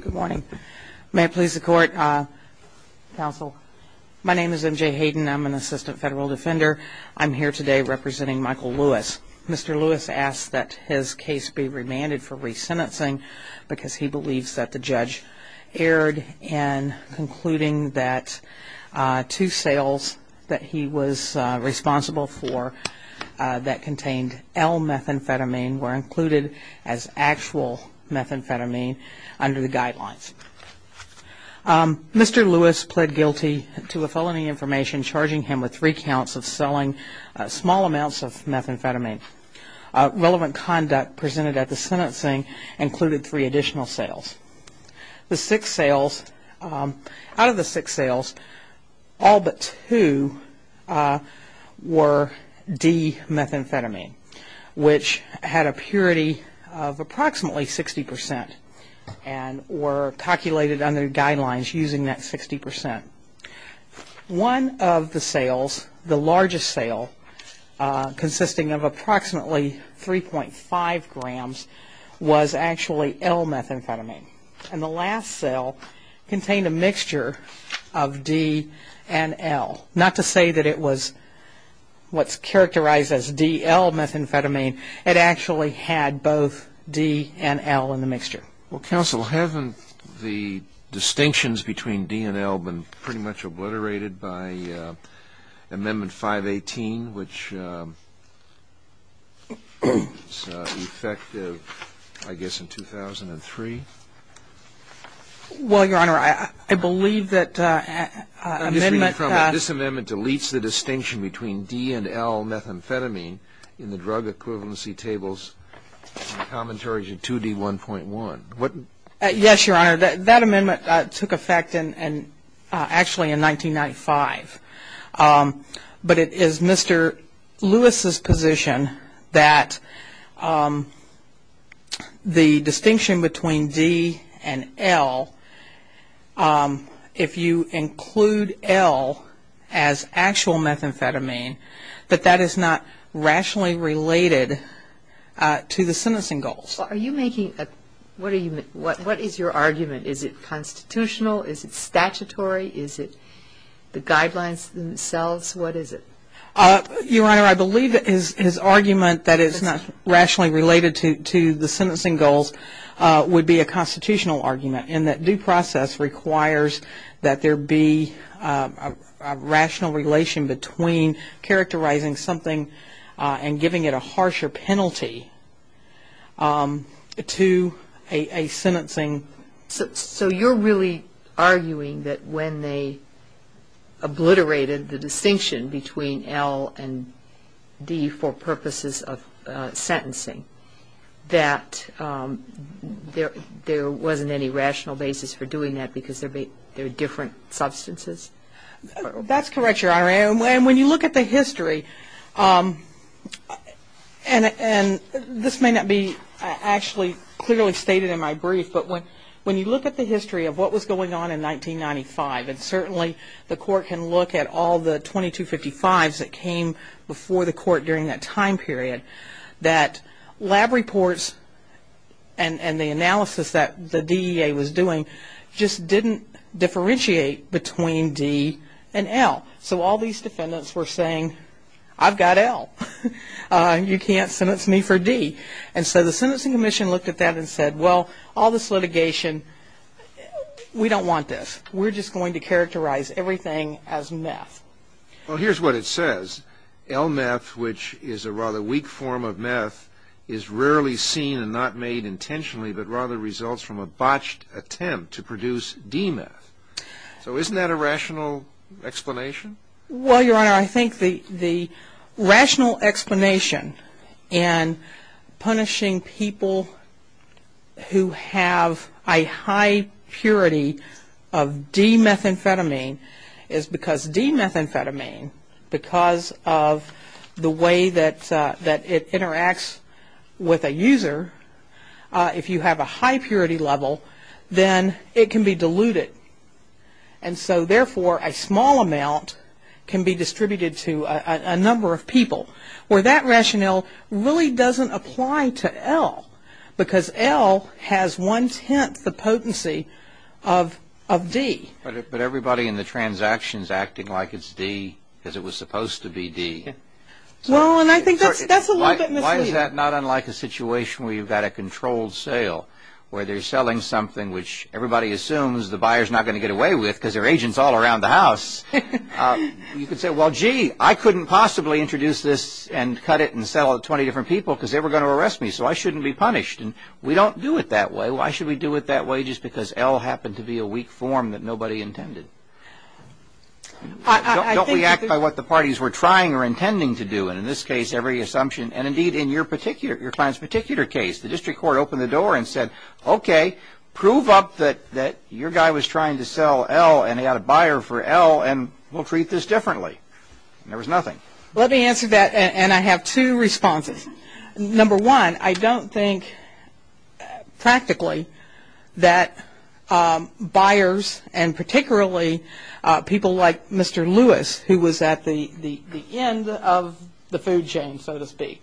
Good morning. May it please the court. Counsel, my name is MJ Hayden. I'm an assistant federal defender. I'm here today representing Michael Lewis. Mr. Lewis asked that his case be remanded for resentencing because he believes that the judge erred in concluding that two sales that he was responsible for that contained L-methamphetamine were included as actual methamphetamine. Under the guidelines, Mr. Lewis pled guilty to a felony information charging him with three counts of selling small amounts of methamphetamine. Relevant conduct presented at the sentencing included three additional sales. The six sales, out of the six sales, all but two were D-methamphetamine, which had a calculated under guidelines using that 60%. One of the sales, the largest sale, consisting of approximately 3.5 grams, was actually L-methamphetamine. And the last sale contained a mixture of D and L, not to say that it was what's characterized as D-L-methamphetamine. It actually had both D and L in the drug equivalency tables. Counsel, haven't the distinctions between D and L been pretty much obliterated by Amendment 518, which is effective, I guess, in 2003? Well, Your Honor, I believe that Amendment 518 I'm just reading from it. This amendment deletes the distinction between D and L-methamphetamine in the drug equivalency tables and commentaries in 2D1.1. Yes, Your Honor. That amendment took effect actually in 1995. But it is Mr. Lewis's position that the distinction between D and L, if you include L as actual methamphetamine, that that is not rationally related to the sentencing goals. Are you making a, what is your argument? Is it constitutional? Is it statutory? Is it the guidelines themselves? What is it? Your Honor, I believe his argument that it's not rationally related to the sentencing goals would be a constitutional argument in that due process requires that there be a rational relation between characterizing something and giving it a harsher penalty to a sentencing. So you're really arguing that when they obliterated the distinction between L and D for purposes of sentencing, that there wasn't any rational basis for doing that because there are different substances? That's correct, Your Honor. And when you look at the history, and this may not be actually clearly stated in my brief, but when you look at the history of what was going on in 1995, and certainly the Court can look at all the 2255s that came before the Court during that time period, that lab reports and the analysis that the DEA was doing just didn't differentiate between D and L. So all these defendants were saying, I've got L. You can't sentence me for D. And so the Sentencing Commission looked at that and said, well, all this litigation, we don't want this. We're just going to characterize everything as meth. Well, here's what it says. L-meth, which is a rather weak form of meth, is rarely seen and not made intentionally, but rather results from a botched attempt to produce D-meth. So isn't that a rational explanation? Well, Your Honor, I think the rational explanation in punishing people who have a high purity of D-methamphetamine is because D-methamphetamine, because of the way that it interacts with a user, if you have a high purity level, then it can be diluted. And so therefore, a small amount can be distributed to a number of people, where that rationale really doesn't apply to L, because L has one-tenth the potency of D. But everybody in the transaction's acting like it's D, as it was supposed to be D. Well, and I think that's a little bit misleading. Why is that not unlike a situation where you've got a controlled sale, where they're selling something which everybody assumes the buyer's not going to get away with, because there are agents all around the house? You could say, well, gee, I couldn't possibly introduce this and cut it and sell it to 20 different people, because they were going to arrest me, so I shouldn't be punished. And we don't do it that way. Why should we do it that way? Just because L happened to be a weak form that nobody intended. Don't we act by what the parties were trying or intending to do, and in this case, every assumption. And indeed, in your client's particular case, the district court opened the door and said, okay, prove up that your guy was trying to sell L, and he had a buyer for L, and we'll treat this differently. And there was nothing. Let me answer that, and I have two responses. Number one, I don't think practically that buyers, and particularly people like Mr. Lewis, who was at the end of the food chain, so to speak,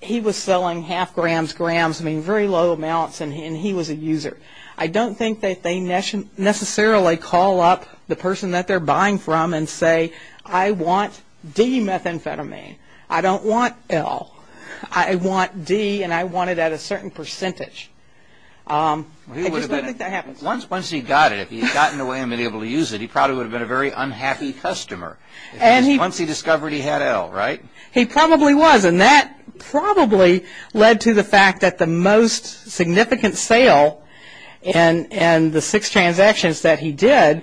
he was selling half grams, grams, very low amounts, and he was a user. I don't think that they necessarily call up the person that they're buying from and say, I want D methamphetamine. I don't want L. I want D, and I want it at a certain percentage. I just don't think that happens. Once he got it, if he had gotten away and been able to use it, he probably would have been a very unhappy customer. Once he discovered he had L, right? He probably was, and that probably led to the fact that the most significant sale and the six transactions that he did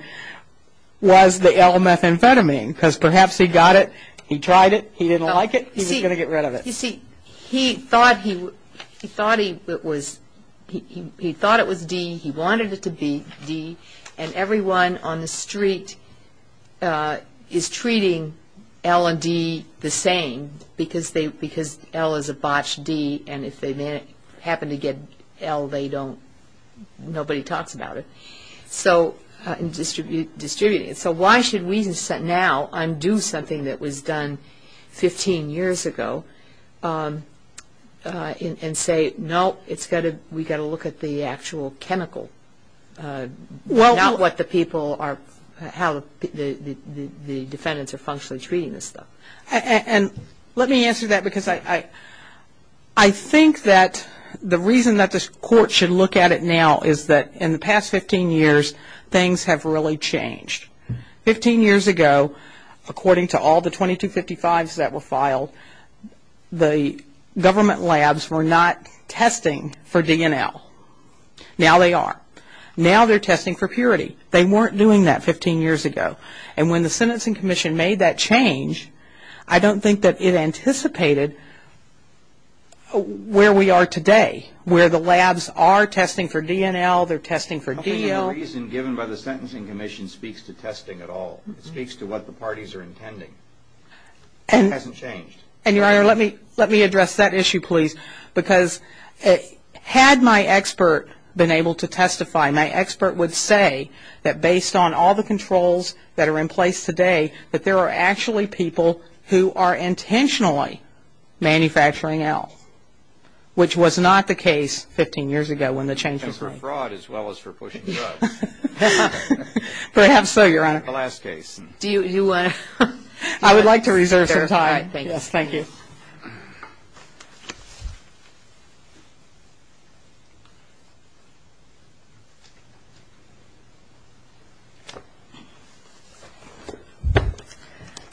was the L methamphetamine, because perhaps he got it, he tried it, he didn't like it, he was going to get rid of it. You see, he thought it was D, he wanted it to be D, and everyone on the street is treating L and D the same, because L is a botched D, and if they happen to get L, they don't, nobody talks about it, so distributing it. So why should we now undo something that was done 15 years ago and say, no, we've got to look at the actual chemical, not what the people are, how the defendants are functionally treating this stuff. And let me answer that, because I think that the reason that the court should look at it now is that in the past 15 years, things have really changed. 15 years ago, according to all the 2255s that were filed, the government labs were not testing for D and L. Now they are. Now they're testing for purity. They weren't doing that 15 years ago, and when the Sentencing Commission made that change, I don't think that it anticipated where we are today, where the labs are testing for D and L, they're testing for DL. The reason given by the Sentencing Commission speaks to testing at all. It speaks to what the parties are intending. It hasn't changed. And your honor, let me address that issue, please, because had my expert been able to testify, my expert would say that based on all the controls that are in place today, that there are actually people who are intentionally manufacturing L, which was not the case 15 years ago when the change was made. And for fraud as well as for pushing drugs. Perhaps so, your honor. The last case. I would like to reserve some time. Yes, thank you.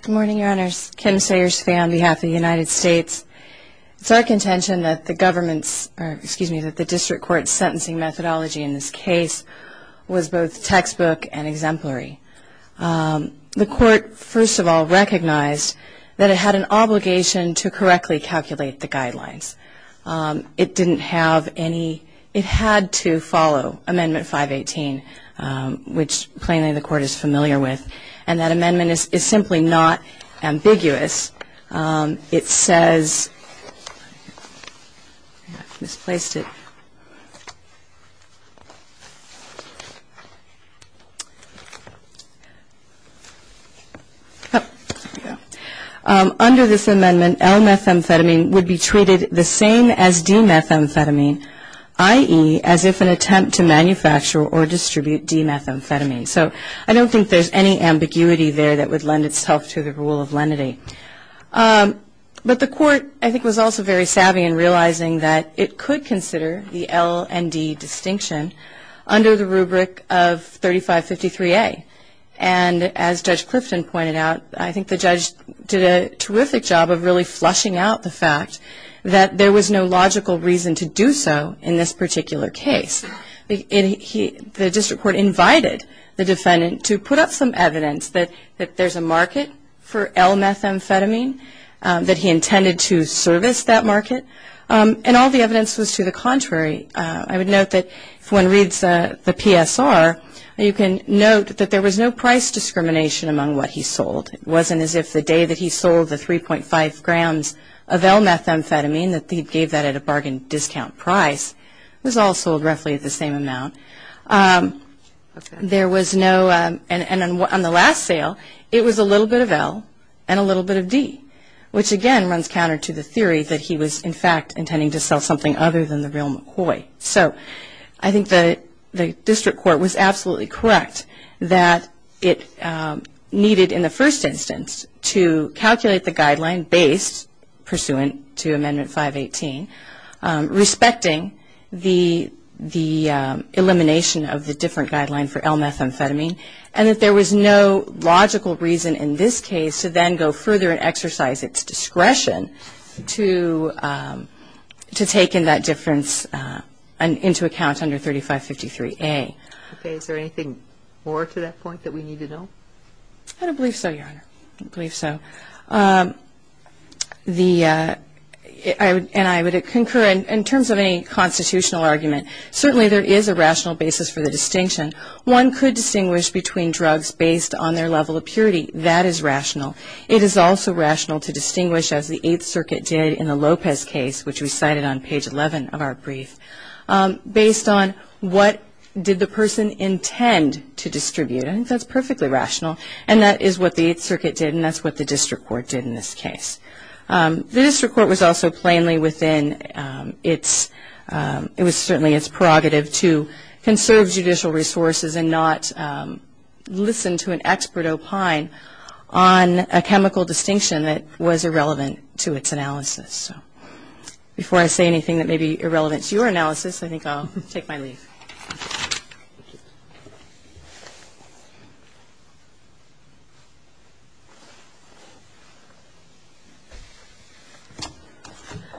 Good morning, your honors. Kim Sayers-Fay on behalf of the United States. It's our contention that the government's, or excuse me, that the district court's sentencing methodology in this case was both textbook and exemplary. The court, first of all, recognized that it had an obligation to correctly calculate the guidelines. It didn't have any, it had to follow Amendment 45. 518, which plainly the court is familiar with. And that amendment is simply not ambiguous. It says, I misplaced it. Under this amendment, L-methamphetamine would be treated the same as D-methamphetamine, i.e., as if an attempt to manufacture or distribute D-methamphetamine. So I don't think there's any ambiguity there that would lend itself to the rule of lenity. But the court, I think, was also very savvy in realizing that it could consider the L and D distinction under the rubric of 3553A. And as Judge Clifton pointed out, I think the judge did a terrific job of really flushing out the fact that there was no logical reason to do so in this particular case. The district court invited the defendant to put up some evidence that there's a market for L-methamphetamine, that he intended to service that market. And all the evidence was to the contrary. I would note that if one reads the PSR, you can note that there was no price discrimination among what he sold. It wasn't as if the day that he sold the 3.5 grams of L-methamphetamine, that he gave that at a bargain discount price, was all sold roughly at the same amount. There was no, and on the last sale, it was a little bit of L and a little bit of D, which, again, runs counter to the theory that he was, in fact, intending to sell something other than the real McCoy. So I think the district court was absolutely correct that it needed, in the first instance, to calculate the guideline based pursuant to Amendment 518, respecting the elimination of the different guideline for L-methamphetamine, and that there was no logical reason in this into account under 3553A. Okay. Is there anything more to that point that we need to know? I don't believe so, Your Honor. I don't believe so. And I would concur, in terms of any constitutional argument, certainly there is a rational basis for the distinction. One could distinguish between drugs based on their level of purity. That is rational. It is also rational to distinguish, as the Eighth Circuit did in the Lopez case, which we cited on page 11 of our brief, based on what did the person intend to distribute. I think that's perfectly rational. And that is what the Eighth Circuit did, and that's what the district court did in this case. The district court was also plainly within its, it was certainly its prerogative to conserve judicial resources and not listen to an expert opine on a chemical distinction that was irrelevant to its analysis. Before I say anything that may be irrelevant to your analysis, I think I'll take my leave.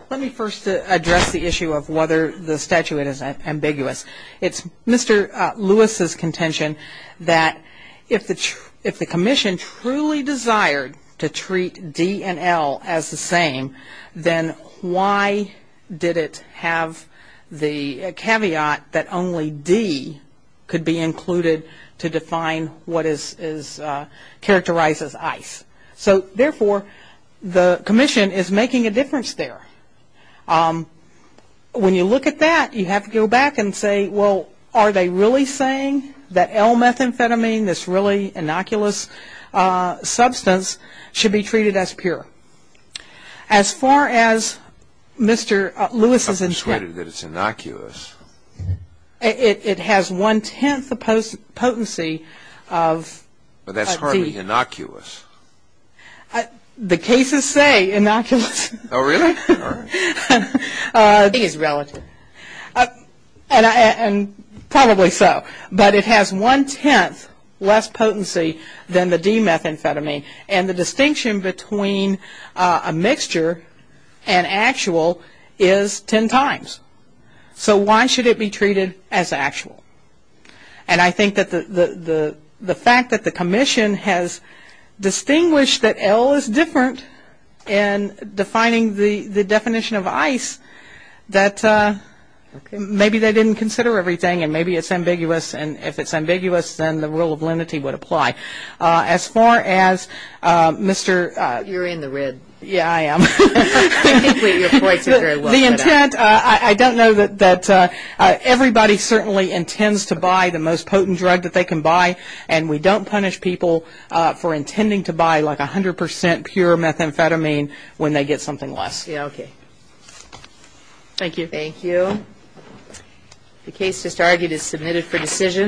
Let me first address the issue of whether the statuette is ambiguous. It's Mr. Lewis's contention that if the commission truly desired to treat D and L as the same, then why did it have the caveat that only D could be included to define what is characterized as ice? So, therefore, the commission is making a difference there. When you look at that, you have to go back and say, well, are they really saying that L-methamphetamine, this really innocuous substance, should be treated as pure? As far as Mr. Lewis's interest... I'm persuaded that it's innocuous. It has one-tenth the potency of... But that's hardly innocuous. The cases say innocuous. Oh, really? I think it's relative. And probably so. But it has one-tenth less potency than the D-methamphetamine. And the distinction between a mixture and actual is ten times. So why should it be treated as actual? And I think that the fact that the commission has distinguished that L is different in defining the definition of ice, that maybe they didn't consider everything and maybe it's ambiguous, and if it's ambiguous, then the rule of lenity would apply. As far as Mr... You're in the red. Yeah, I am. The intent, I don't know that... Everybody certainly intends to buy the most potent drug that they can buy, and we don't punish people for intending to buy like 100% pure methamphetamine when they get something less. Yeah, okay. Thank you. Thank you. The case just argued is submitted for decision.